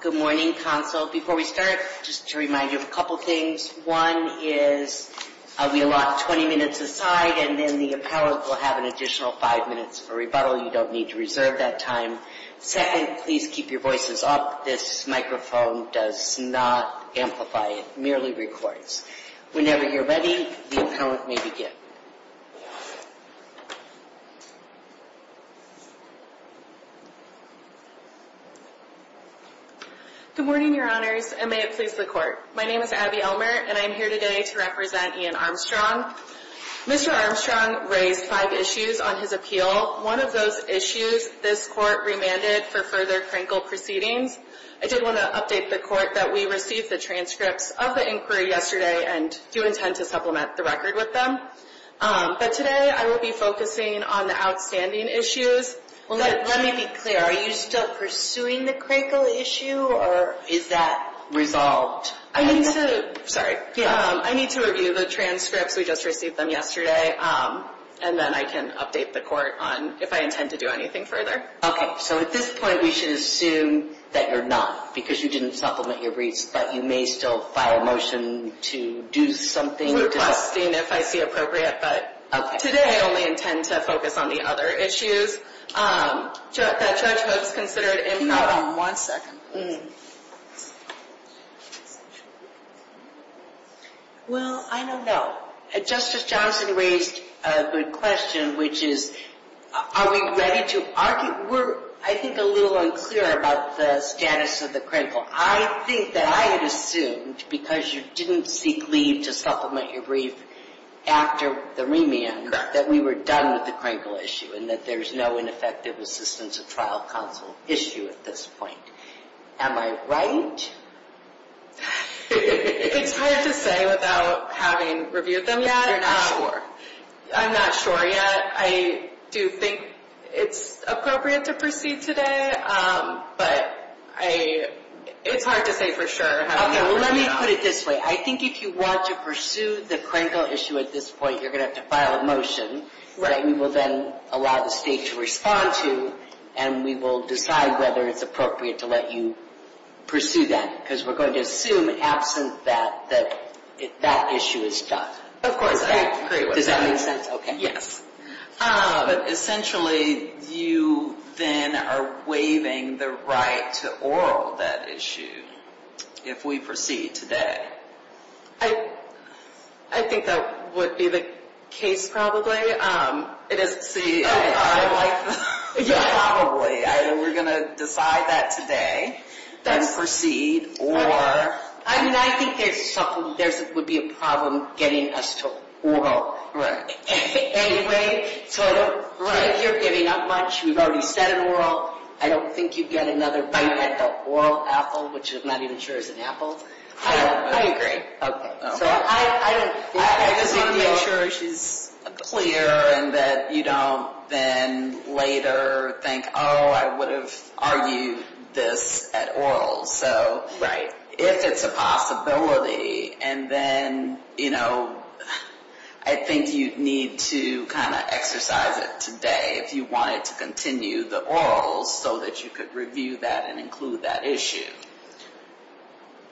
Good morning, Council. Before we start, just to remind you of a couple things. One is we'll lock 20 minutes aside and then the appellant will have an additional five minutes for rebuttal. You don't need to reserve that time. Second, please keep your voices up. This microphone does not amplify. It merely records. Whenever you're ready, the appellant may begin. Abby Elmert Good morning, Your Honors, and may it please the Court. My name is Abby Elmert and I am here today to represent Ian Armstrong. Mr. Armstrong raised five issues on his appeal. One of those issues this Court remanded for further Krankel proceedings. I did want to update the Court that we received the transcripts of the inquiry yesterday and do intend to supplement the record with them. But today I will be focusing on the outstanding issues. Let me be clear. Are you still pursuing the Krankel issue or is that resolved? I need to review the transcripts. We just received them yesterday and then I can update the Court on if I intend to do anything further. Okay, so at this point we should assume that you're not because you didn't supplement your briefs, but you may still file a motion to do something. We're testing if I see appropriate, but today I only intend to focus on the other issues. That judgment is considered improper. Hold on one second, please. Well, I don't know. Justice Johnson raised a good question, which is, are we ready to argue? We're, I think, a little unclear about the status of the Krankel. I think that I had assumed because you didn't seek leave to supplement your brief after the remand that we were done with the Krankel issue and that there's no ineffective assistance of trial counsel issue at this point. Am I right? It's hard to say without having reviewed them yet. I'm not sure yet. I do think it's appropriate to proceed today, but it's hard to say for sure. Okay, well let me put it this way. I think if you want to pursue the Krankel issue at this point, you're going to have to file a motion that we will then allow the state to respond to and we will decide whether it's appropriate to let you pursue that because we're going to assume absent that that issue is done. Of course, I agree with that. Does that make sense? Okay. But essentially, you then are waiving the right to oral that issue if we proceed today. I think that would be the case probably. It is. See, I like the probably. Either we're going to decide that today, then proceed, or... I mean, I think there would be a problem getting us to oral. Anyway, so I don't think you're giving up much. We've already said oral. I don't think you'd get another right at the oral apple, which I'm not even sure is an apple. I agree. Okay. I just want to make sure she's clear and that you don't then later think, oh, I would have argued this at oral. Right. If it's a possibility, and then, you know, I think you'd need to kind of exercise it today if you wanted to continue the orals so that you could review that and include that issue.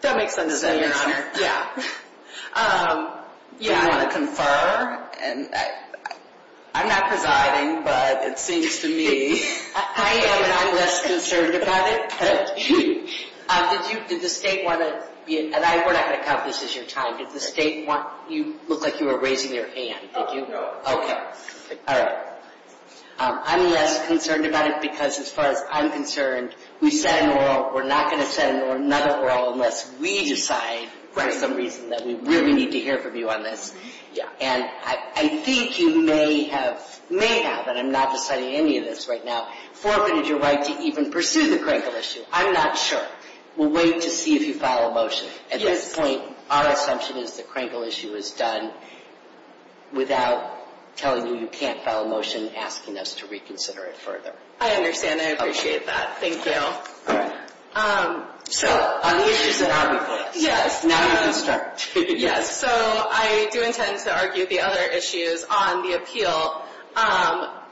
That makes sense. Does that make sense? Yeah. Yeah. Do you want to confer? I'm not presiding, but it seems to me... I am, and I'm less concerned about it. Did you, did the state want to, and we're not going to count this as your time, did the state want, you looked like you were raising your hand. Okay. All right. I'm less concerned about it because as far as I'm concerned, we said an oral. We're not going to send another oral unless we decide for some reason that we really need to hear from you on this. Yeah. And I think you may have, may have, and I'm not deciding any of this right now, forfeited your right to even pursue the crankle issue. I'm not sure. We'll wait to see if you file a motion. Yes. At this point, our assumption is the crankle issue is done without telling you you can't file a motion asking us to reconsider it further. I understand. I appreciate that. Thank you. All right. So, on the issues at our request. Yes. Now you can start. Yes. So, I do intend to argue the other issues on the appeal.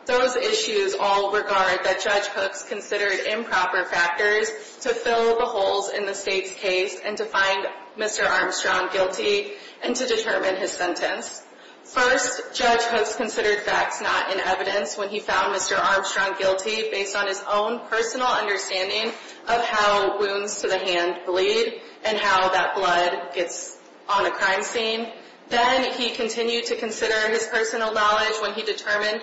Those issues all regard that Judge Hooks considered improper factors to fill the holes in the state's case and to find Mr. Armstrong guilty and to determine his sentence. First, Judge Hooks considered facts not in evidence when he found Mr. Armstrong guilty based on his own personal understanding of how wounds to the hand bleed and how that blood gets on a crime scene. Then he continued to consider his personal knowledge when he determined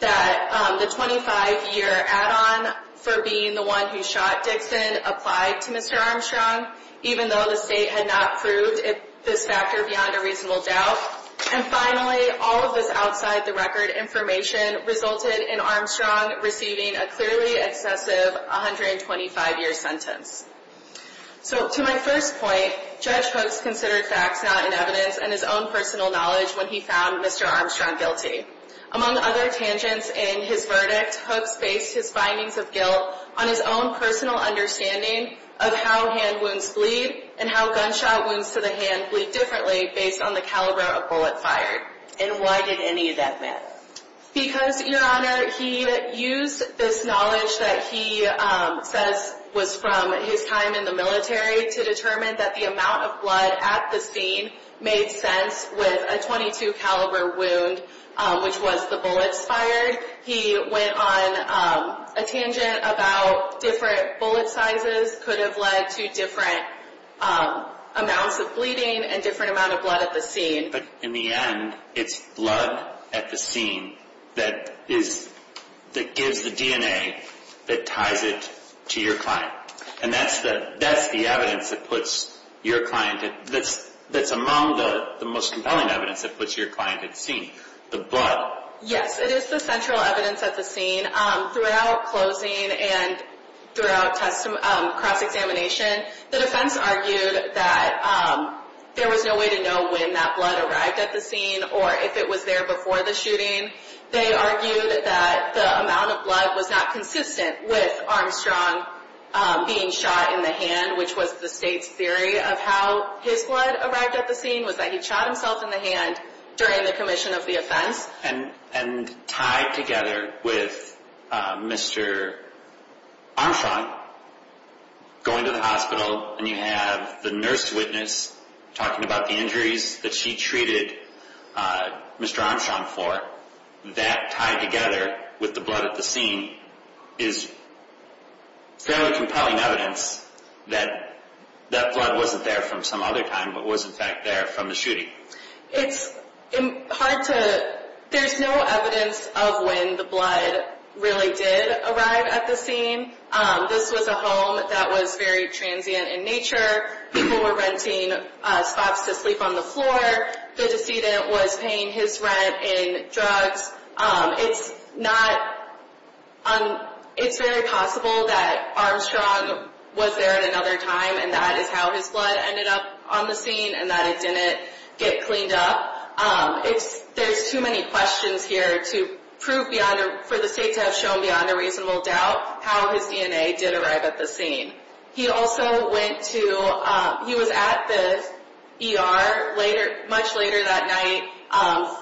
that the 25-year add-on for being the one who shot Dixon applied to Mr. Armstrong, even though the state had not proved this factor beyond a reasonable doubt. And finally, all of this outside-the-record information resulted in Armstrong receiving a clearly excessive 125-year sentence. So, to my first point, Judge Hooks considered facts not in evidence and his own personal knowledge when he found Mr. Armstrong guilty. Among other tangents in his verdict, Hooks based his findings of guilt on his own personal understanding of how hand wounds bleed and how gunshot wounds to the hand bleed differently based on the caliber of bullet fired. And why did any of that matter? Because, Your Honor, he used this knowledge that he says was from his time in the military to determine that the amount of blood at the scene made sense with a .22 caliber wound, which was the bullets fired. He went on a tangent about different bullet sizes could have led to different amounts of bleeding and different amount of blood at the scene. But in the end, it's blood at the scene that gives the DNA that ties it to your client. And that's the evidence that's among the most compelling evidence that puts your client at the scene, the blood. Yes, it is the central evidence at the scene. Throughout closing and throughout cross-examination, the defense argued that there was no way to know when that blood arrived at the scene or if it was there before the shooting. They argued that the amount of blood was not consistent with Armstrong being shot in the hand, which was the state's theory of how his blood arrived at the scene, was that he shot himself in the hand during the commission of the offense. And tied together with Mr. Armstrong going to the hospital and you have the nurse witness talking about the injuries that she treated Mr. Armstrong for, that tied together with the blood at the scene is fairly compelling evidence that that blood wasn't there from some other time, but was in fact there from the shooting. There's no evidence of when the blood really did arrive at the scene. This was a home that was very transient in nature. People were renting spots to sleep on the floor. The decedent was paying his rent in drugs. It's very possible that Armstrong was there at another time and that is how his blood ended up on the scene and that it didn't get cleaned up. There's too many questions here for the state to have shown beyond a reasonable doubt how his DNA did arrive at the scene. He also went to, he was at the ER much later that night,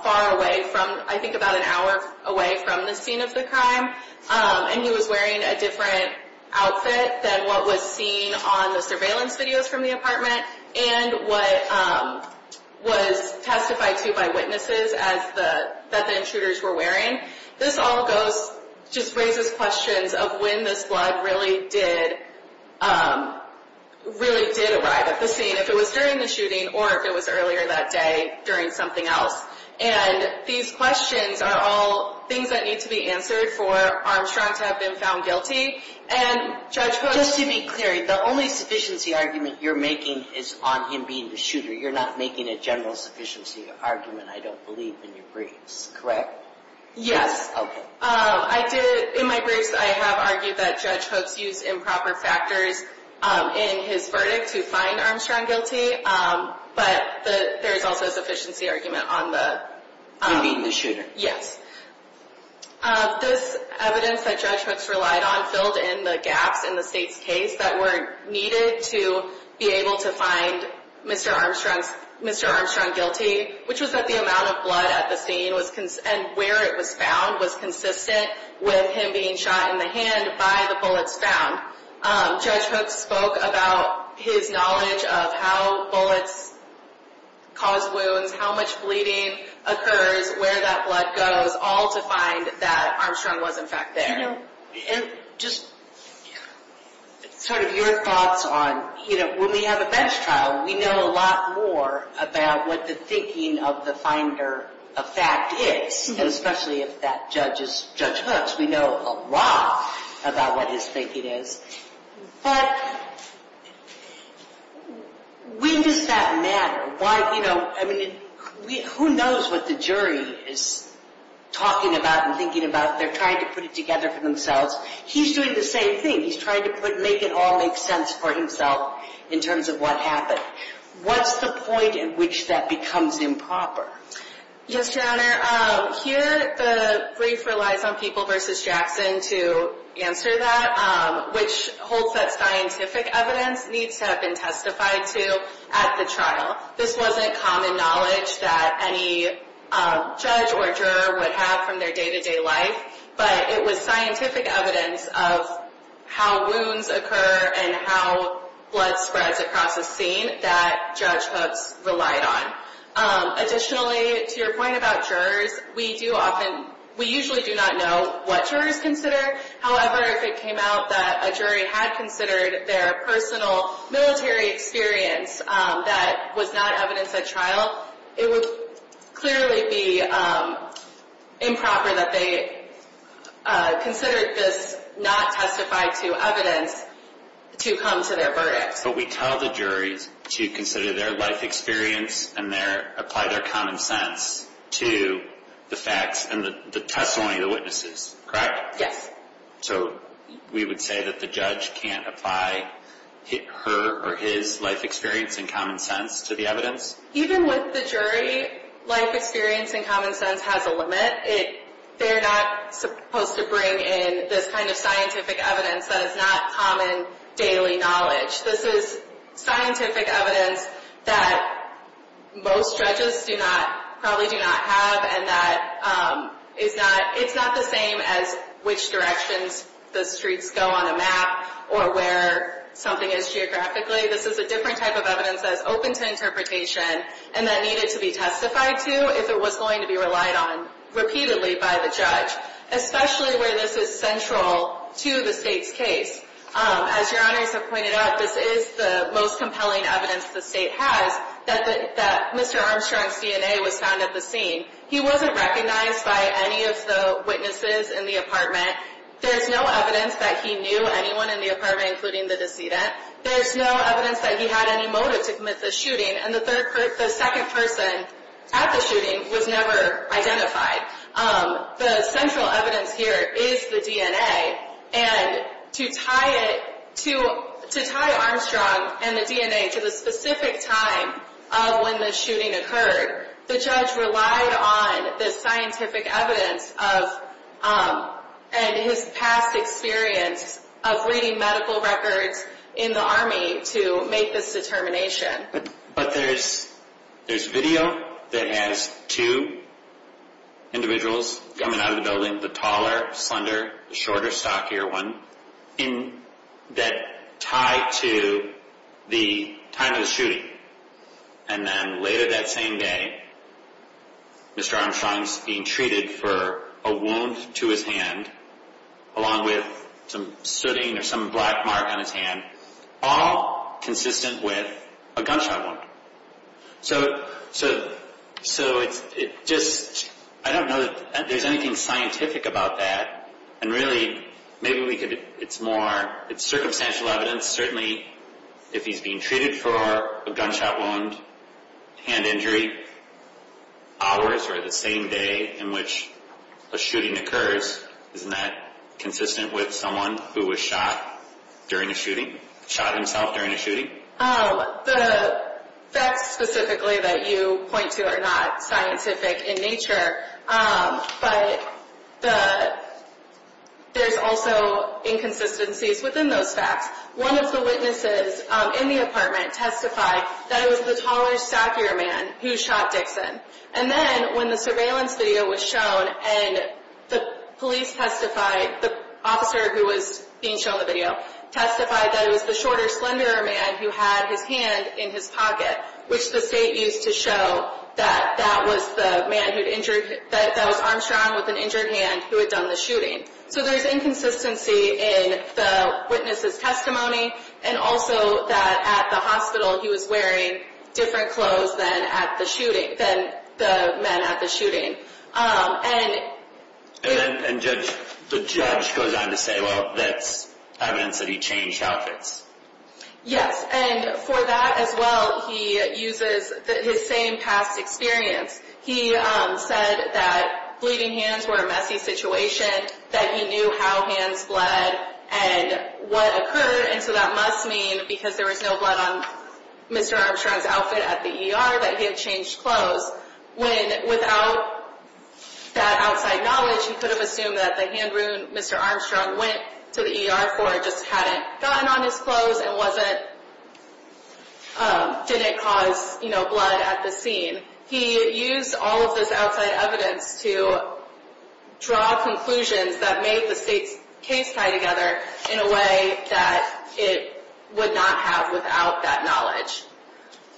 far away from, I think about an hour away from the scene of the crime. And he was wearing a different outfit than what was seen on the surveillance videos from the apartment and what was testified to by witnesses that the intruders were wearing. This all goes, just raises questions of when this blood really did, really did arrive at the scene. If it was during the shooting or if it was earlier that day during something else. And these questions are all things that need to be answered for Armstrong to have been found guilty. And Judge Post- Just to be clear, the only sufficiency argument you're making is on him being the shooter. You're not making a general sufficiency argument, I don't believe, in your briefs, correct? Yes. Okay. I did, in my briefs I have argued that Judge Hooks used improper factors in his verdict to find Armstrong guilty. But there is also a sufficiency argument on the- On being the shooter. Yes. This evidence that Judge Hooks relied on filled in the gaps in the state's case that were needed to be able to find Mr. Armstrong's, Mr. Armstrong guilty. Which was that the amount of blood at the scene and where it was found was consistent with him being shot in the hand by the bullets found. Judge Hooks spoke about his knowledge of how bullets cause wounds, how much bleeding occurs, where that blood goes. All to find that Armstrong was in fact there. And just sort of your thoughts on, you know, when we have a bench trial, we know a lot more about what the thinking of the finder of fact is. And especially if that judge is Judge Hooks, we know a lot about what his thinking is. But when does that matter? Who knows what the jury is talking about and thinking about? They're trying to put it together for themselves. He's doing the same thing. He's trying to make it all make sense for himself in terms of what happened. What's the point at which that becomes improper? Yes, Your Honor. Here the brief relies on People v. Jackson to answer that, which holds that scientific evidence needs to have been testified to at the trial. This wasn't common knowledge that any judge or juror would have from their day-to-day life. But it was scientific evidence of how wounds occur and how blood spreads across a scene that Judge Hooks relied on. Additionally, to your point about jurors, we usually do not know what jurors consider. However, if it came out that a jury had considered their personal military experience that was not evidenced at trial, it would clearly be improper that they considered this not testified to evidence to come to their verdict. But we tell the jury to consider their life experience and apply their common sense to the facts and the testimony of the witnesses, correct? Yes. So we would say that the judge can't apply her or his life experience and common sense to the evidence? Even with the jury, life experience and common sense has a limit. They're not supposed to bring in this kind of scientific evidence that is not common daily knowledge. This is scientific evidence that most judges probably do not have, and it's not the same as which directions the streets go on a map or where something is geographically. This is a different type of evidence that is open to interpretation and that needed to be testified to if it was going to be relied on repeatedly by the judge, especially where this is central to the State's case. As your honors have pointed out, this is the most compelling evidence the State has that Mr. Armstrong's DNA was found at the scene. He wasn't recognized by any of the witnesses in the apartment. There's no evidence that he knew anyone in the apartment, including the decedent. There's no evidence that he had any motive to commit the shooting, and the second person at the shooting was never identified. The central evidence here is the DNA, and to tie Armstrong and the DNA to the specific time of when the shooting occurred, the judge relied on the scientific evidence and his past experience of reading medical records in the Army to make this determination. But there's video that has two individuals coming out of the building, the taller, slender, shorter, stockier one, that tie to the time of the shooting. And then later that same day, Mr. Armstrong's being treated for a wound to his hand, along with some sooting or some black mark on his hand, all consistent with a gunshot wound. So it's just, I don't know that there's anything scientific about that, and really maybe we could, it's more, it's circumstantial evidence. But certainly, if he's being treated for a gunshot wound, hand injury, hours or the same day in which a shooting occurs, isn't that consistent with someone who was shot during a shooting, shot himself during a shooting? The facts specifically that you point to are not scientific in nature, but there's also inconsistencies within those facts. One of the witnesses in the apartment testified that it was the taller, stockier man who shot Dixon. And then when the surveillance video was shown, and the police testified, the officer who was being shown the video testified that it was the shorter, slender man who had his hand in his pocket, which the state used to show that that was the man who'd injured, that was Armstrong with an injured hand who had done the shooting. So there's inconsistency in the witness's testimony, and also that at the hospital he was wearing different clothes than at the shooting, than the men at the shooting. And the judge goes on to say, well, that's evidence that he changed outfits. Yes, and for that as well, he uses his same past experience. He said that bleeding hands were a messy situation, that he knew how hands bled and what occurred, and so that must mean because there was no blood on Mr. Armstrong's outfit at the ER that he had changed clothes, when without that outside knowledge he could have assumed that the hand wound Mr. Armstrong went to the ER for just hadn't gotten on his clothes and didn't cause blood at the scene. He used all of this outside evidence to draw conclusions that made the state's case tie together in a way that it would not have without that knowledge.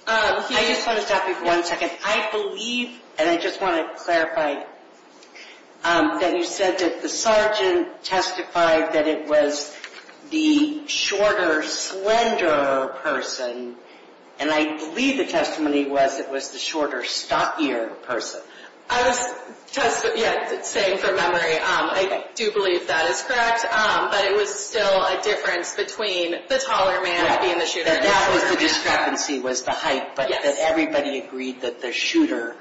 I just want to stop you for one second. I believe, and I just want to clarify that you said that the sergeant testified that it was the shorter, slender person, and I believe the testimony was it was the shorter, stockier person. I was saying from memory, I do believe that is correct, but it was still a difference between the taller man being the shooter. The discrepancy was the height, but everybody agreed that the shooter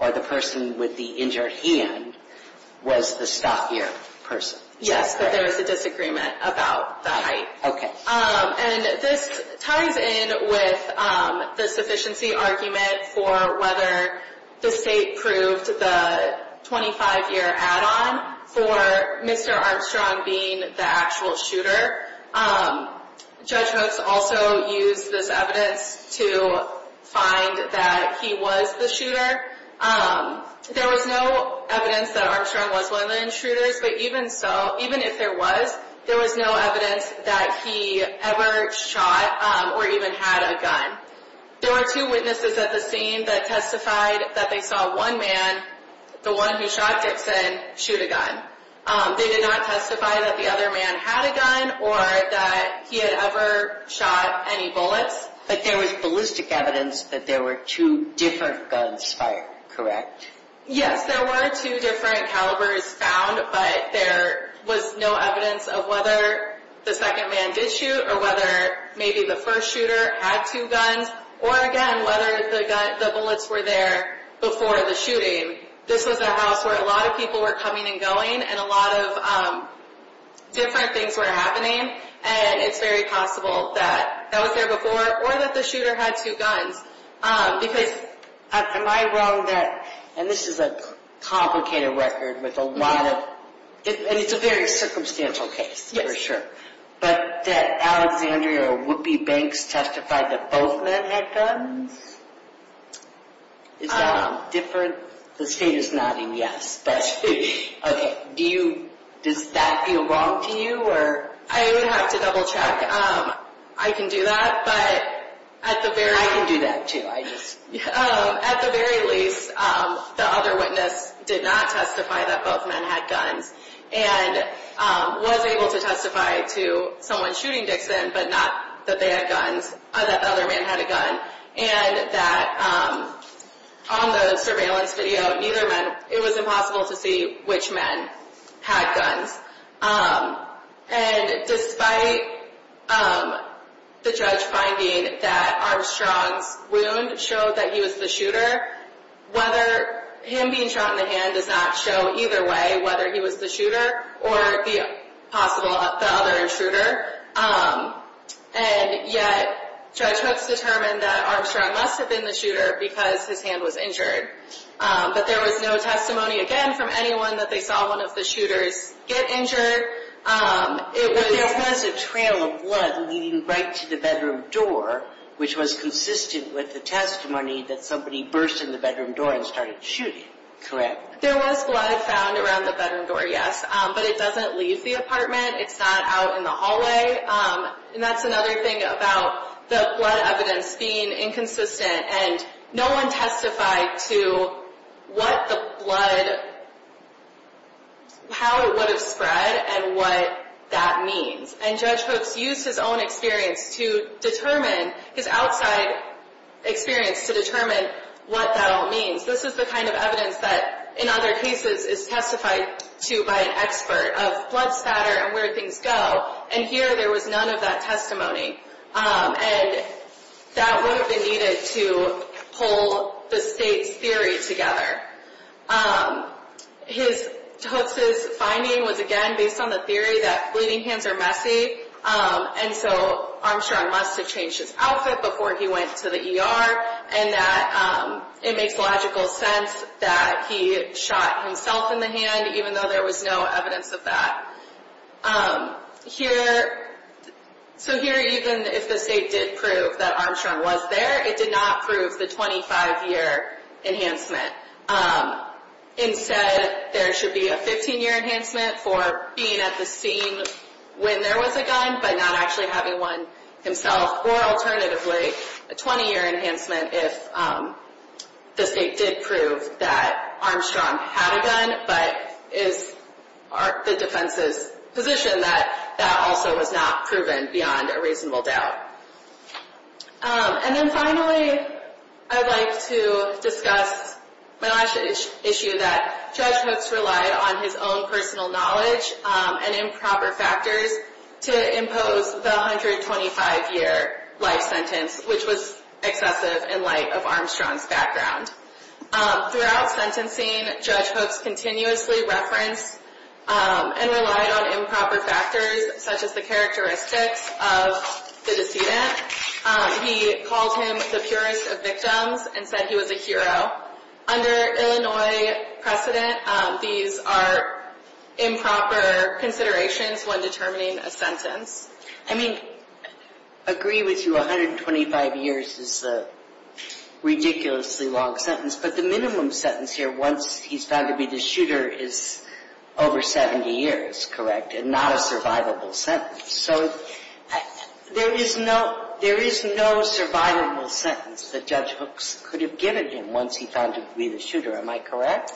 or the person with the injured hand was the stockier person. Yes, but there was a disagreement about the height. Okay. And this ties in with the sufficiency argument for whether the state proved the 25-year add-on for Mr. Armstrong being the actual shooter. Judge Hooks also used this evidence to find that he was the shooter. There was no evidence that Armstrong was one of the intruders, but even if there was, there was no evidence that he ever shot or even had a gun. There were two witnesses at the scene that testified that they saw one man, the one who shot Dixon, shoot a gun. They did not testify that the other man had a gun or that he had ever shot any bullets. But there was ballistic evidence that there were two different guns fired, correct? Yes, there were two different calibers found, but there was no evidence of whether the second man did shoot or whether maybe the first shooter had two guns or, again, whether the bullets were there before the shooting. This was a house where a lot of people were coming and going and a lot of different things were happening, and it's very possible that that was there before or that the shooter had two guns. Because, am I wrong that, and this is a complicated record with a lot of, and it's a very circumstantial case for sure, but that Alexandria or Whoopi Banks testified that both men had guns? Is that not different? The state is nodding yes. Okay, do you, does that feel wrong to you? I would have to double check. I can do that, but at the very least. I can do that too. At the very least, the other witness did not testify that both men had guns and was able to testify to someone shooting Dixon, but not that they had guns, that the other man had a gun, and that on the surveillance video, neither men, it was impossible to see which men had guns. And despite the judge finding that Armstrong's wound showed that he was the shooter, whether him being shot in the hand does not show either way whether he was the shooter or the possible, the other shooter. And yet, judgments determined that Armstrong must have been the shooter because his hand was injured. But there was no testimony, again, from anyone that they saw one of the shooters get injured. There was a trail of blood leading right to the bedroom door, which was consistent with the testimony that somebody burst in the bedroom door and started shooting, correct? There was blood found around the bedroom door, yes. But it doesn't leave the apartment. It's not out in the hallway. And that's another thing about the blood evidence being inconsistent. And no one testified to what the blood, how it would have spread and what that means. And Judge Hooks used his own experience to determine, his outside experience to determine what that all means. This is the kind of evidence that, in other cases, is testified to by an expert of blood spatter and where things go. And here, there was none of that testimony. And that would have been needed to pull the state's theory together. Hooks' finding was, again, based on the theory that bleeding hands are messy. And so Armstrong must have changed his outfit before he went to the ER. And that it makes logical sense that he shot himself in the hand, even though there was no evidence of that. Here, so here, even if the state did prove that Armstrong was there, it did not prove the 25-year enhancement. Instead, there should be a 15-year enhancement for being at the scene when there was a gun, but not actually having one himself. Or, alternatively, a 20-year enhancement if the state did prove that Armstrong had a gun, but is the defense's position that that also was not proven beyond a reasonable doubt. And then finally, I'd like to discuss my last issue that Judge Hooks relied on his own personal knowledge and improper factors to impose the 125-year life sentence, which was excessive in light of Armstrong's background. Throughout sentencing, Judge Hooks continuously referenced and relied on improper factors, such as the characteristics of the decedent. He called him the purest of victims and said he was a hero. Under Illinois precedent, these are improper considerations when determining a sentence. I mean, agree with you, 125 years is a ridiculously long sentence, but the minimum sentence here, once he's found to be the shooter, is over 70 years, correct? And not a survivable sentence. So there is no survivable sentence that Judge Hooks could have given him once he found him to be the shooter, am I correct?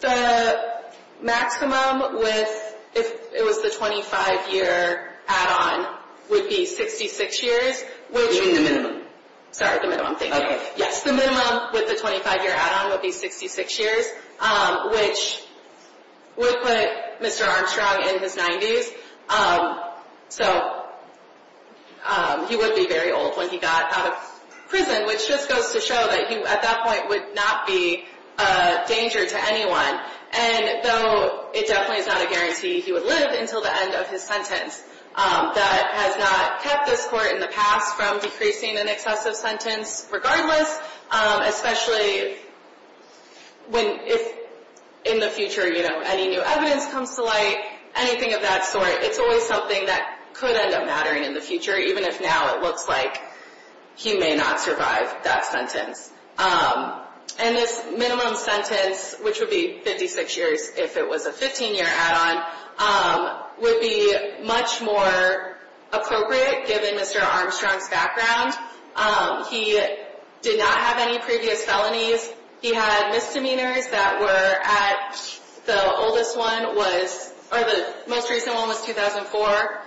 The maximum with, if it was the 25-year add-on, would be 66 years. You mean the minimum? Sorry, the minimum, thank you. Yes, the minimum with the 25-year add-on would be 66 years, which would put Mr. Armstrong in his 90s. So he would be very old when he got out of prison, which just goes to show that he, at that point, would not be a danger to anyone. And though it definitely is not a guarantee he would live until the end of his sentence, that has not kept this court in the past from decreasing an excessive sentence. Regardless, especially if in the future any new evidence comes to light, anything of that sort, it's always something that could end up mattering in the future, even if now it looks like he may not survive that sentence. And this minimum sentence, which would be 56 years if it was a 15-year add-on, would be much more appropriate given Mr. Armstrong's background. He did not have any previous felonies. He had misdemeanors that were at, the oldest one was, or the most recent one was 2004,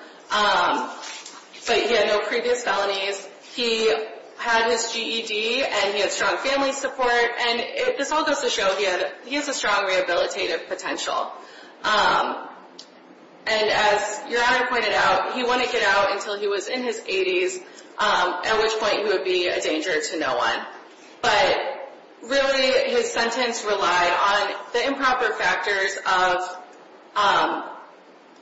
but he had no previous felonies. He had his GED, and he had strong family support, and this all goes to show he has a strong rehabilitative potential. And as Your Honor pointed out, he wouldn't get out until he was in his 80s, at which point he would be a danger to no one. But really, his sentence relied on the improper factors of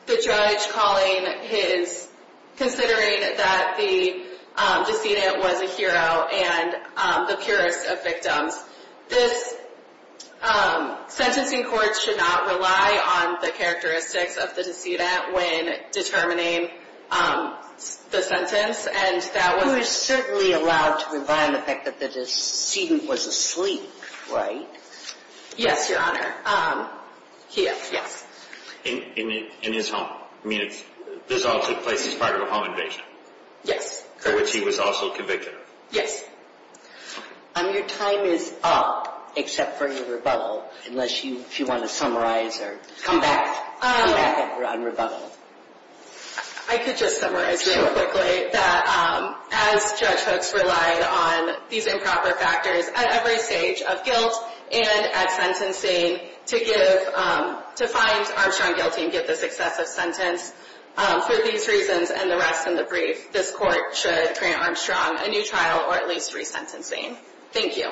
the judge calling his, considering that the decedent was a hero and the purest of victims. This sentencing court should not rely on the characteristics of the decedent when determining the sentence, and that was... He was certainly allowed to rely on the fact that the decedent was asleep, right? Yes, Your Honor. He is, yes. In his home. I mean, this all took place as part of a home invasion. Yes. For which he was also convicted of. Yes. Your time is up, except for your rebuttal, unless you want to summarize or come back, come back on rebuttal. I could just summarize real quickly that as judge folks relied on these improper factors at every stage of guilt and at sentencing to give, to find Armstrong guilty and give this excessive sentence for these reasons and the rest in the brief, this court should grant Armstrong a new trial or at least resentencing. Thank you.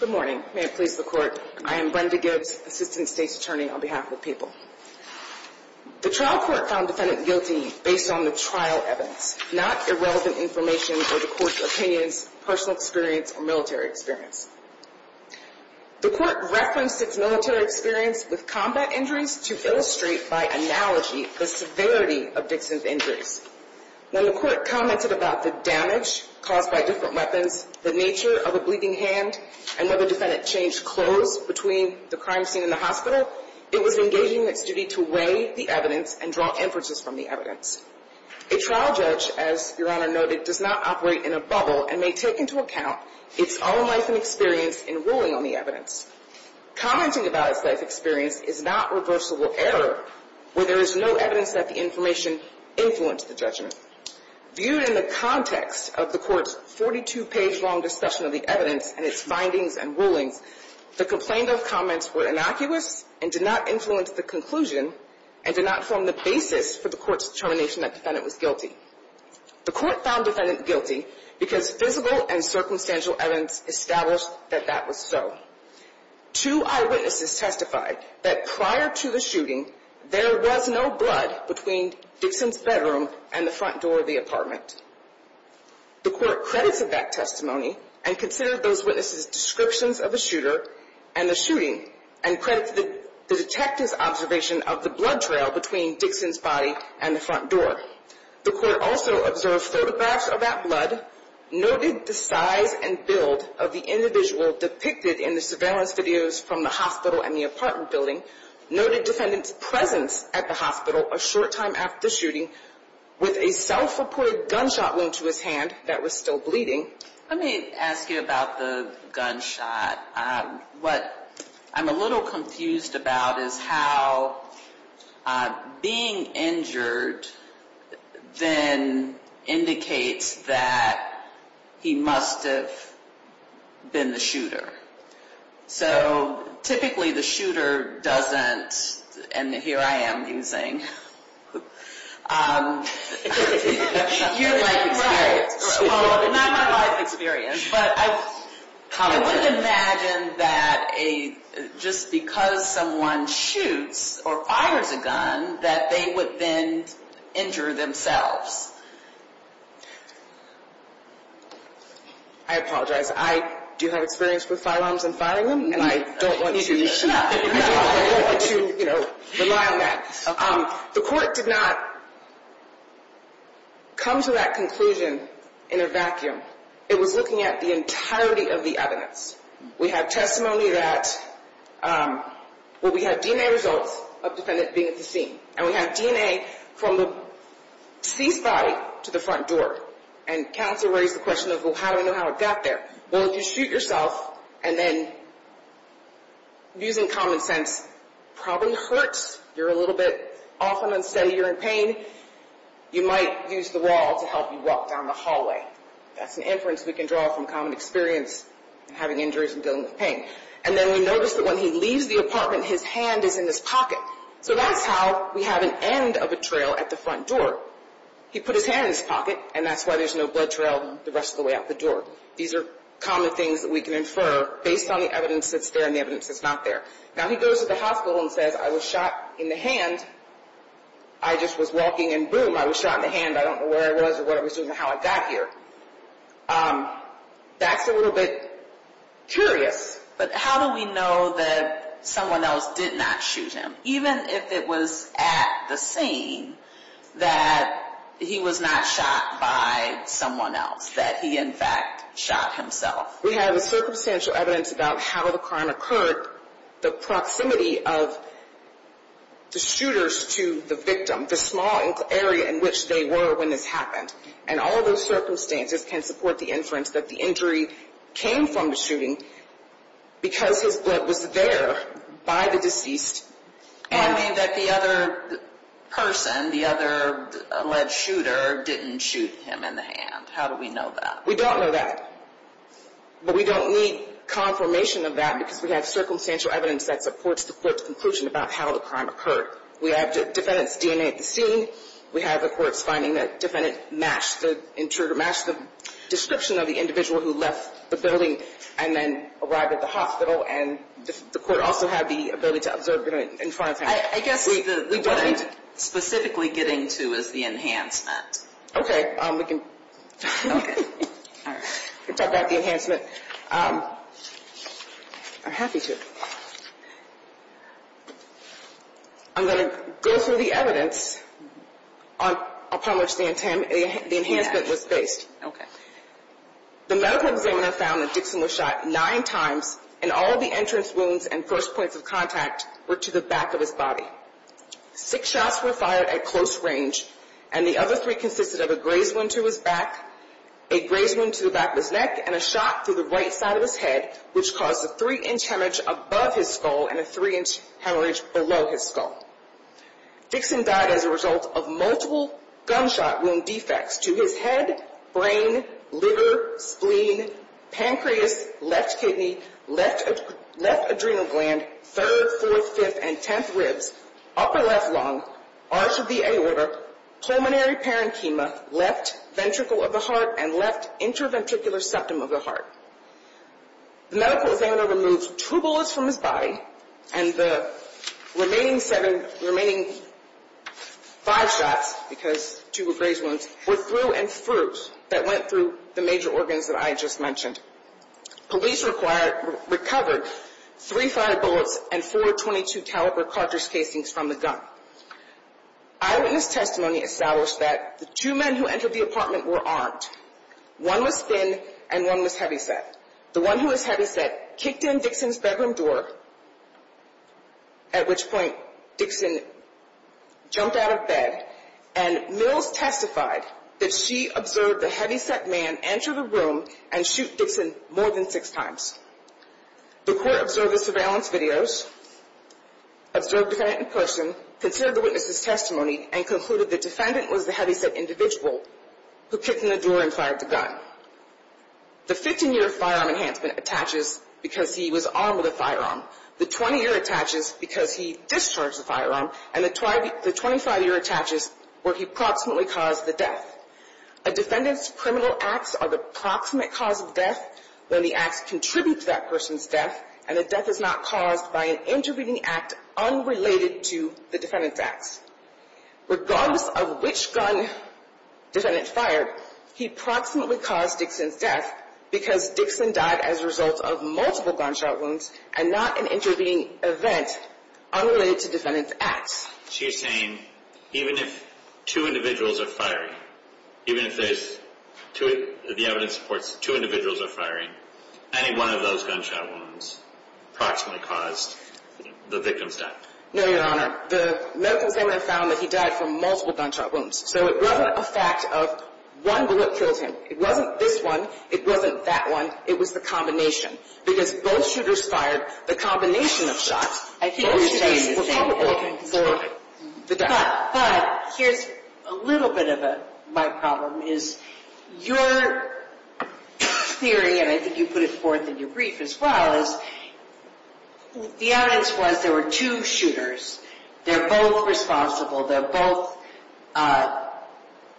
Good morning. May it please the court. I am Brenda Gibbs, Assistant State's Attorney on behalf of the people. The trial court found defendant guilty based on the trial evidence, not irrelevant information or the court's opinions, personal experience, or military experience. The court referenced its military experience with combat injuries to illustrate by analogy the severity of Dixon's injuries. When the court commented about the damage caused by different weapons, the nature of a bleeding hand, and whether defendant changed clothes between the crime scene and the hospital, it was engaging in its duty to weigh the evidence and draw inferences from the evidence. A trial judge, as Your Honor noted, does not operate in a bubble and may take into account its own life and experience in ruling on the evidence. Commenting about its life experience is not reversible error where there is no evidence that the information influenced the judgment. Viewed in the context of the court's 42-page long discussion of the evidence and its findings and rulings, the complained of comments were innocuous and did not influence the conclusion and did not form the basis for the court's determination that defendant was guilty. The court found defendant guilty because physical and circumstantial evidence established that that was so. Two eyewitnesses testified that prior to the shooting, there was no blood between Dixon's bedroom and the front door of the apartment. The court credited that testimony and considered those witnesses' descriptions of the shooter and the shooting and credited the detective's observation of the blood trail between Dixon's body and the front door. The court also observed photographs of that blood, noted the size and build of the individual depicted in the surveillance videos from the hospital and the apartment building, noted defendant's presence at the hospital a short time after the shooting with a self-reported gunshot wound to his hand that was still bleeding. Let me ask you about the gunshot. What I'm a little confused about is how being injured then indicates that he must have been the shooter. So typically the shooter doesn't, and here I am using. You're right. Not my life experience, but I would imagine that just because someone shoots or fires a gun that they would then injure themselves. I apologize. I do have experience with firearms and firing them, and I don't want to rely on that. The court did not come to that conclusion in a vacuum. It was looking at the entirety of the evidence. We have testimony that – well, we have DNA results of the defendant being at the scene, and we have DNA from the C's body to the front door, and counsel raised the question of, well, how do I know how it got there? Well, if you shoot yourself and then, using common sense, probably hurts, you're a little bit off and unsteady, you're in pain, you might use the wall to help you walk down the hallway. That's an inference we can draw from common experience in having injuries and dealing with pain. And then we notice that when he leaves the apartment, his hand is in his pocket. So that's how we have an end of a trail at the front door. He put his hand in his pocket, and that's why there's no blood trail the rest of the way out the door. These are common things that we can infer based on the evidence that's there and the evidence that's not there. Now, he goes to the hospital and says, I was shot in the hand. I just was walking, and boom, I was shot in the hand. I don't know where I was or what I was doing or how I got here. That's a little bit curious. But how do we know that someone else did not shoot him? Even if it was at the scene, that he was not shot by someone else, that he, in fact, shot himself. We have the circumstantial evidence about how the crime occurred, the proximity of the shooters to the victim, the small area in which they were when this happened. And all those circumstances can support the inference that the injury came from the shooting because his blood was there by the deceased. And that the other person, the other alleged shooter, didn't shoot him in the hand. How do we know that? We don't know that. But we don't need confirmation of that because we have circumstantial evidence that supports the court's conclusion about how the crime occurred. We have defendants DNA at the scene. We have the court's finding that the defendant matched the intruder, matched the description of the individual who left the building and then arrived at the hospital. And the court also had the ability to observe it in front of him. I guess what I'm specifically getting to is the enhancement. Okay. We can talk about the enhancement. I'm happy to. I'm going to go through the evidence upon which the enhancement was based. Okay. The medical examiner found that Dixon was shot nine times, and all of the entrance wounds and first points of contact were to the back of his body. Six shots were fired at close range, and the other three consisted of a grazed wound to his back, a grazed wound to the back of his neck, and a shot to the right side of his head, which caused a three-inch hemorrhage above his skull and a three-inch hemorrhage below his skull. Dixon died as a result of multiple gunshot wound defects to his head, brain, liver, spleen, pancreas, left kidney, left adrenal gland, third, fourth, fifth, and tenth ribs, upper left lung, arch of the aorta, pulmonary parenchyma, left ventricle of the heart, and left interventricular septum of the heart. The medical examiner removed two bullets from his body, and the remaining five shots, because two were grazed wounds, were through and through that went through the major organs that I just mentioned. Police recovered three fire bullets and four .22 caliber cartridge casings from the gun. Eyewitness testimony established that the two men who entered the apartment were armed. One was thin, and one was heavyset. The one who was heavyset kicked in Dixon's bedroom door, at which point Dixon jumped out of bed, and Mills testified that she observed the heavyset man enter the room and shoot Dixon more than six times. The court observed the surveillance videos, observed the defendant in person, considered the witness's testimony, and concluded the defendant was the heavyset individual who kicked in the door and fired the gun. The 15-year firearm enhancement attaches because he was armed with a firearm. The 20-year attaches because he discharged the firearm, and the 25-year attaches where he proximately caused the death. A defendant's criminal acts are the proximate cause of death when the acts contribute to that person's death, and the death is not caused by an intervening act unrelated to the defendant's acts. Regardless of which gun defendant fired, he proximately caused Dixon's death because Dixon died as a result of multiple gunshot wounds and not an intervening event unrelated to defendant's acts. So you're saying even if two individuals are firing, even if the evidence supports two individuals are firing, any one of those gunshot wounds proximately caused the victim's death? No, Your Honor. The medical examiner found that he died from multiple gunshot wounds, so it wasn't a fact of one bullet killed him. It wasn't this one. It wasn't that one. It was the combination. Because both shooters fired the combination of shots, both shooters were culpable for the death. But here's a little bit of my problem is your theory, and I think you put it forth in your brief as well, the evidence was there were two shooters. They're both responsible. They're both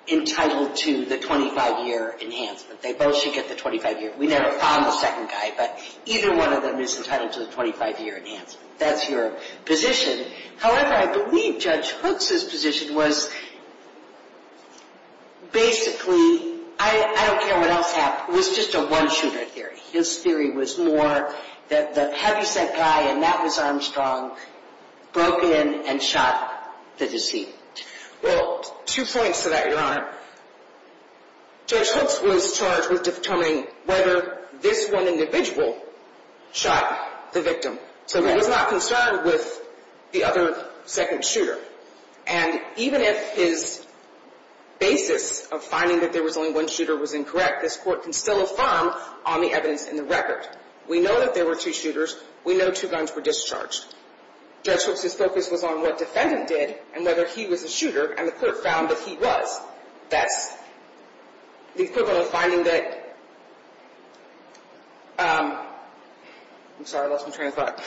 entitled to the 25-year enhancement. They both should get the 25-year. We never found the second guy, but either one of them is entitled to the 25-year enhancement. That's your position. However, I believe Judge Hooks' position was basically, I don't care what else happened, it was just a one-shooter theory. His theory was more that the heavy scent guy, and that was Armstrong, broke in and shot the deceit. Well, two points to that, Your Honor. Judge Hooks was charged with determining whether this one individual shot the victim. So he was not concerned with the other second shooter. And even if his basis of finding that there was only one shooter was incorrect, this Court can still affirm on the evidence in the record. We know that there were two shooters. We know two guns were discharged. Judge Hooks' focus was on what defendant did and whether he was the shooter, and the clerk found that he was. That's the equivalent of finding that, I'm sorry, I lost my train of thought.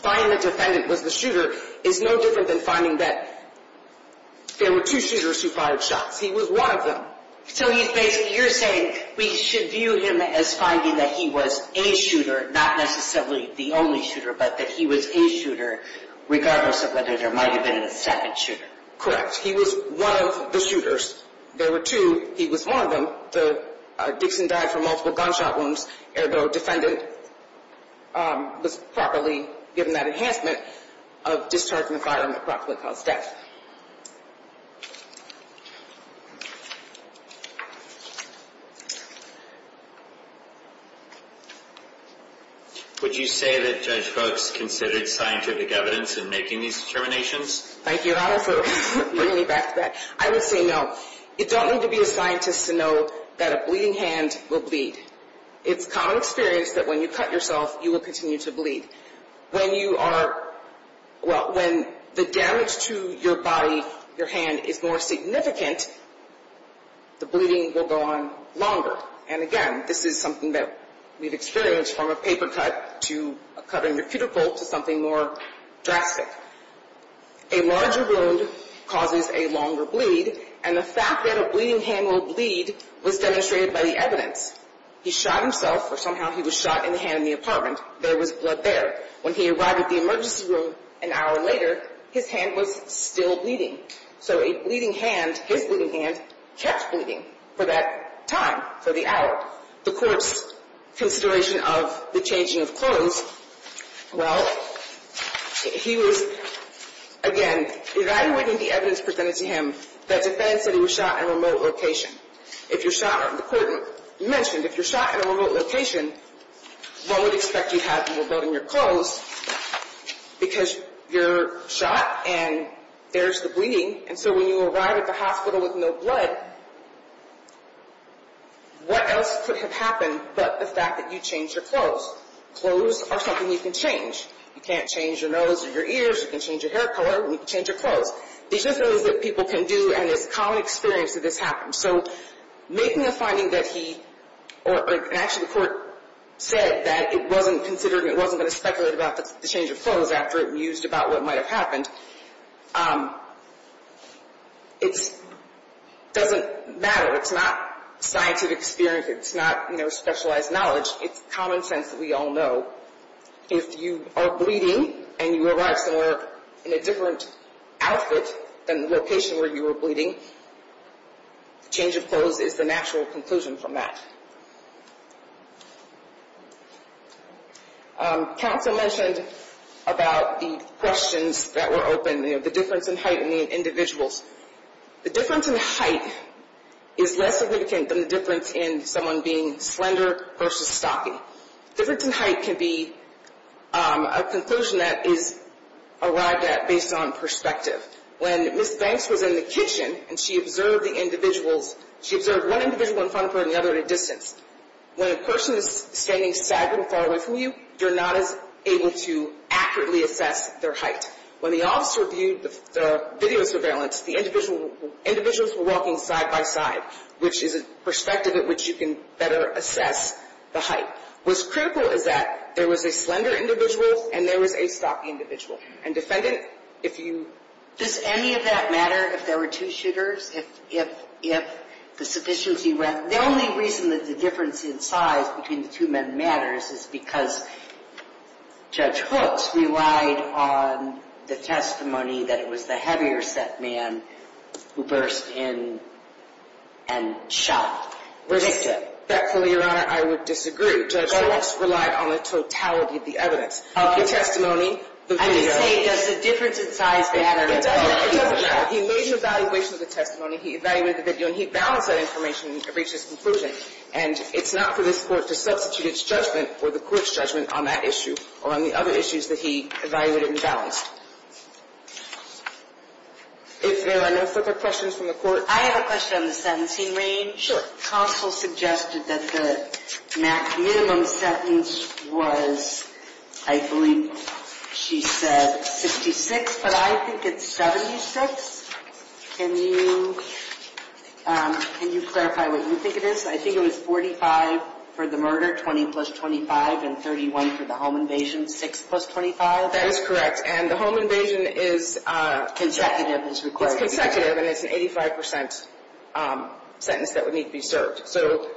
Finding that defendant was the shooter is no different than finding that there were two shooters who fired shots. He was one of them. So you're saying we should view him as finding that he was a shooter, not necessarily the only shooter, but that he was a shooter regardless of whether there might have been a second shooter. Correct. He was one of the shooters. There were two. He was one of them. Dixon died from multiple gunshot wounds, although defendant was properly given that enhancement of discharging the firearm that properly caused death. Would you say that Judge Hooks considered scientific evidence in making these determinations? Thank you, Ronald, for bringing me back to that. I would say no. You don't need to be a scientist to know that a bleeding hand will bleed. It's common experience that when you cut yourself, you will continue to bleed. When you are, well, when the damage to your body, your hand is more significant, the bleeding will go on longer. And again, this is something that we've experienced from a paper cut to a cut in your cuticle to something more drastic. A larger wound causes a longer bleed, and the fact that a bleeding hand will bleed was demonstrated by the evidence. He shot himself, or somehow he was shot in the hand in the apartment. There was blood there. When he arrived at the emergency room an hour later, his hand was still bleeding. So a bleeding hand, his bleeding hand, kept bleeding for that time, for the hour. The court's consideration of the changing of clothes, well, he was, again, evaluating the evidence presented to him that defended that he was shot in a remote location. If you're shot, the court mentioned, if you're shot in a remote location, one would expect you to have more blood in your clothes because you're shot and there's the bleeding. And so when you arrive at the hospital with no blood, what else could have happened but the fact that you changed your clothes? Clothes are something you can change. You can't change your nose or your ears. You can change your hair color, but you can change your clothes. These are things that people can do, and it's a common experience that this happens. So making a finding that he, or actually the court said that it wasn't considered, it wasn't going to speculate about the change of clothes after it was used about what might have happened, it doesn't matter. It's not scientific experience. It's not specialized knowledge. It's common sense that we all know. If you are bleeding and you arrive somewhere in a different outfit than the location where you were bleeding, the change of clothes is the natural conclusion from that. Counsel mentioned about the questions that were open, the difference in height and the individuals. The difference in height is less significant than the difference in someone being slender versus stocky. Difference in height can be a conclusion that is arrived at based on perspective. When Ms. Banks was in the kitchen and she observed the individuals, she observed one individual in front of her and the other at a distance. When a person is standing staggered and far away from you, you're not as able to accurately assess their height. When the officer viewed the video surveillance, the individuals were walking side by side, which is a perspective at which you can better assess the height. What's critical is that there was a slender individual and there was a stocky individual. Does any of that matter if there were two shooters? The only reason that the difference in size between the two men matters is because Judge Hooks relied on the testimony that it was the heavier set man who burst in and shot the victim. Respectfully, Your Honor, I would disagree. Judge Hooks relied on the totality of the evidence. The testimony, the video. I'm just saying, does the difference in size matter? It doesn't matter. He made an evaluation of the testimony. He evaluated the video, and he balanced that information and reached his conclusion. And it's not for this Court to substitute its judgment or the Court's judgment on that issue or on the other issues that he evaluated and balanced. If there are no further questions from the Court. I have a question on the sentencing range. Sure. Counsel suggested that the maximum sentence was, I believe she said, 66, but I think it's 76. Can you clarify what you think it is? I think it was 45 for the murder, 20 plus 25, and 31 for the home invasion, 6 plus 25. That is correct. And the home invasion is consecutive. It's consecutive, and it's an 85 percent sentence that would need to be served. So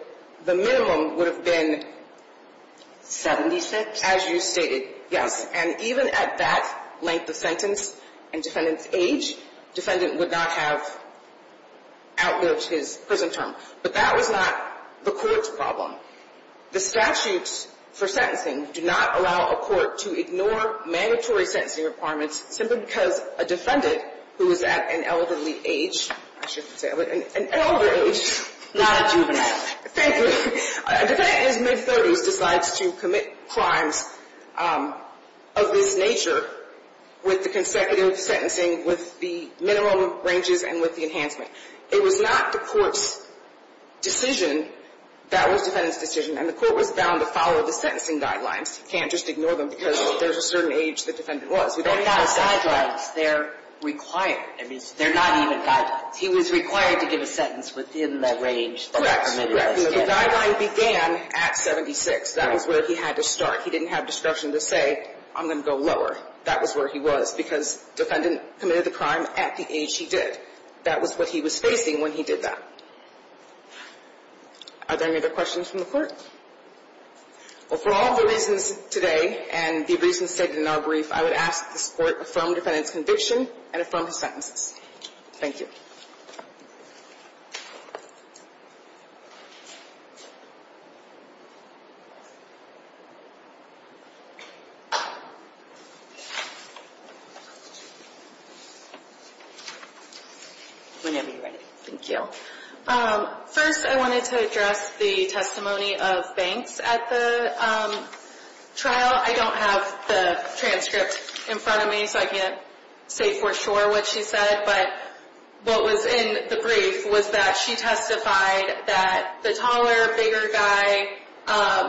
the minimum would have been 76? As you stated, yes. And even at that length of sentence and defendant's age, defendant would not have outlived his prison term. But that was not the Court's problem. The statutes for sentencing do not allow a court to ignore mandatory sentencing requirements simply because a defendant who is at an elderly age, I shouldn't say elderly, an elder age. Not a juvenile. Thank you. A defendant in his mid-30s decides to commit crimes of this nature with the consecutive sentencing with the minimum ranges and with the enhancement. It was not the Court's decision. That was defendant's decision, and the Court was bound to follow the sentencing guidelines. You can't just ignore them because there's a certain age the defendant was. They're not guidelines. They're required. They're not even guidelines. He was required to give a sentence within the range that was permitted. Correct. So the guideline began at 76. That was where he had to start. He didn't have discretion to say, I'm going to go lower. That was where he was because defendant committed the crime at the age he did. That was what he was facing when he did that. Are there any other questions from the Court? Well, for all the reasons today and the reasons stated in our brief, I would ask this Court to affirm defendant's conviction and affirm his sentences. Thank you. Whenever you're ready. Thank you. First, I wanted to address the testimony of Banks at the trial. I don't have the transcript in front of me, so I can't say for sure what she said. But what was in the brief was that she testified that the taller, bigger guy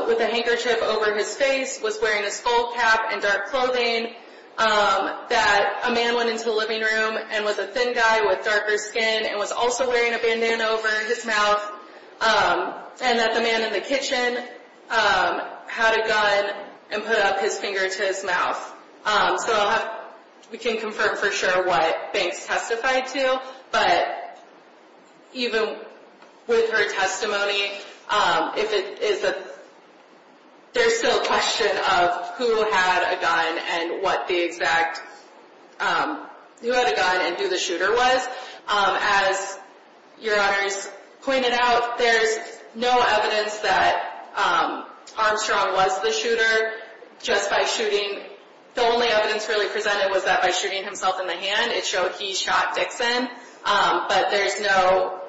with a handkerchief over his face was wearing a skull cap and dark clothing, that a man went into the living room and was a thin guy with darker skin and was also wearing a bandana over his mouth, and that the man in the kitchen had a gun and put up his finger to his mouth. So we can't confirm for sure what Banks testified to, but even with her testimony, there's still a question of who had a gun and who the shooter was. As Your Honors pointed out, there's no evidence that Armstrong was the shooter. The only evidence really presented was that by shooting himself in the hand, it showed he shot Dixon. But there's no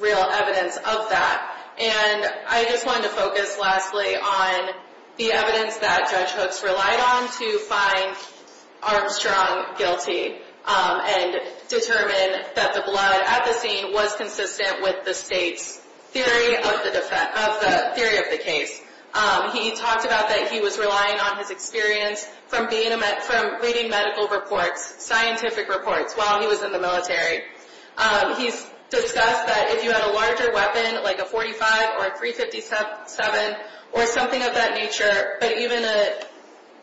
real evidence of that. And I just wanted to focus lastly on the evidence that Judge Hooks relied on to find Armstrong guilty and determine that the blood at the scene was consistent with the state's theory of the case. He talked about that he was relying on his experience from reading medical reports, scientific reports, while he was in the military. He's discussed that if you had a larger weapon, like a .45 or a .357 or something of that nature, but even a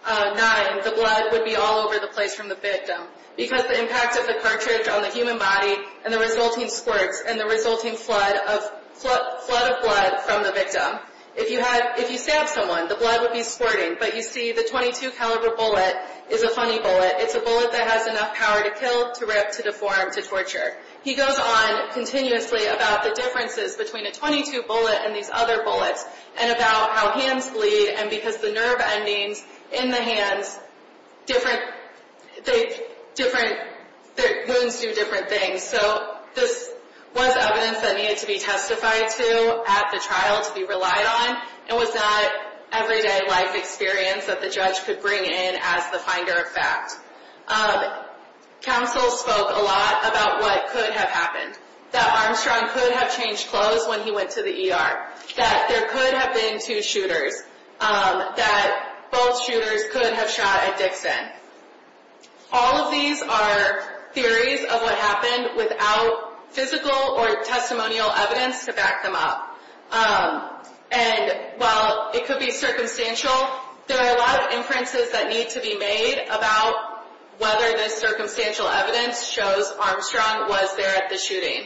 .9, the blood would be all over the place from the victim, because the impact of the cartridge on the human body and the resulting squirts and the resulting flood of blood from the victim. If you stabbed someone, the blood would be squirting, but you see the .22 caliber bullet is a funny bullet. It's a bullet that has enough power to kill, to rip, to deform, to torture. He goes on continuously about the differences between a .22 bullet and these other bullets and about how hands bleed and because the nerve endings in the hands, different wounds do different things. So this was evidence that needed to be testified to at the trial to be relied on. It was not everyday life experience that the judge could bring in as the finder of fact. Counsel spoke a lot about what could have happened. That Armstrong could have changed clothes when he went to the ER. That there could have been two shooters. That both shooters could have shot at Dixon. All of these are theories of what happened without physical or testimonial evidence to back them up. And while it could be circumstantial, there are a lot of inferences that need to be made about whether this circumstantial evidence shows Armstrong was there at the shooting.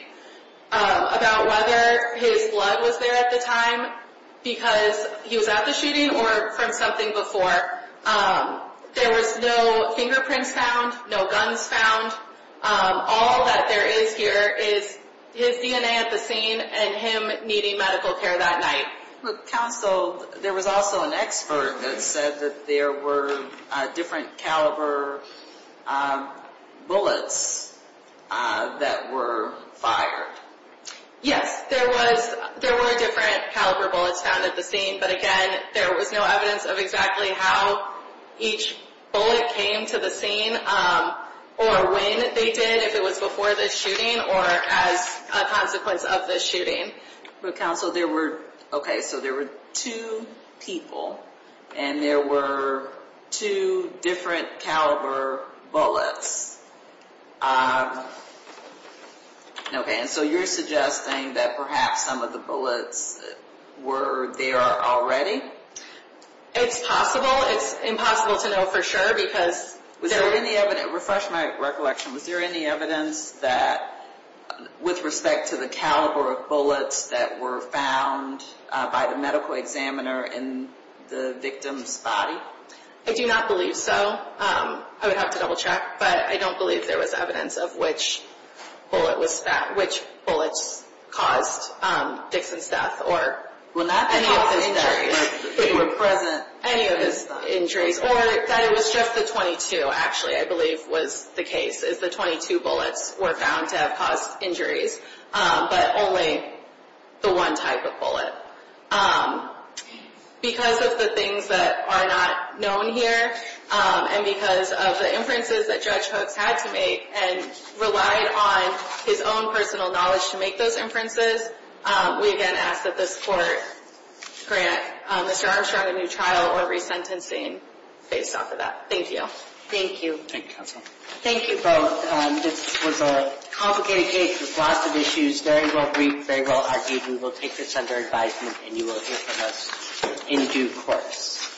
About whether his blood was there at the time because he was at the shooting or from something before. There was no fingerprints found, no guns found. All that there is here is his DNA at the scene and him needing medical care that night. Counsel, there was also an expert that said that there were different caliber bullets that were fired. Yes, there were different caliber bullets found at the scene, but again, there was no evidence of exactly how each bullet came to the scene or when they did, if it was before the shooting or as a consequence of the shooting. Counsel, there were two people and there were two different caliber bullets. Okay, and so you're suggesting that perhaps some of the bullets were there already? It's possible. It's impossible to know for sure because... Refresh my recollection. Was there any evidence that with respect to the caliber of bullets that were found by the medical examiner in the victim's body? I do not believe so. I would have to double check, but I don't believe there was evidence of which bullets caused Dixon's death or any of his injuries or that it was just the 22 actually I believe was the case. The 22 bullets were found to have caused injuries, but only the one type of bullet. Because of the things that are not known here and because of the inferences that Judge Hooks had to make and relied on his own personal knowledge to make those inferences, we again ask that this Court grant Mr. Armstrong a new trial or resentencing based off of that. Thank you. Thank you. Thank you, Counsel. Thank you both. This was a complicated case with lots of issues, very well briefed, very well argued. We will take this under advisement and you will hear from us in due course.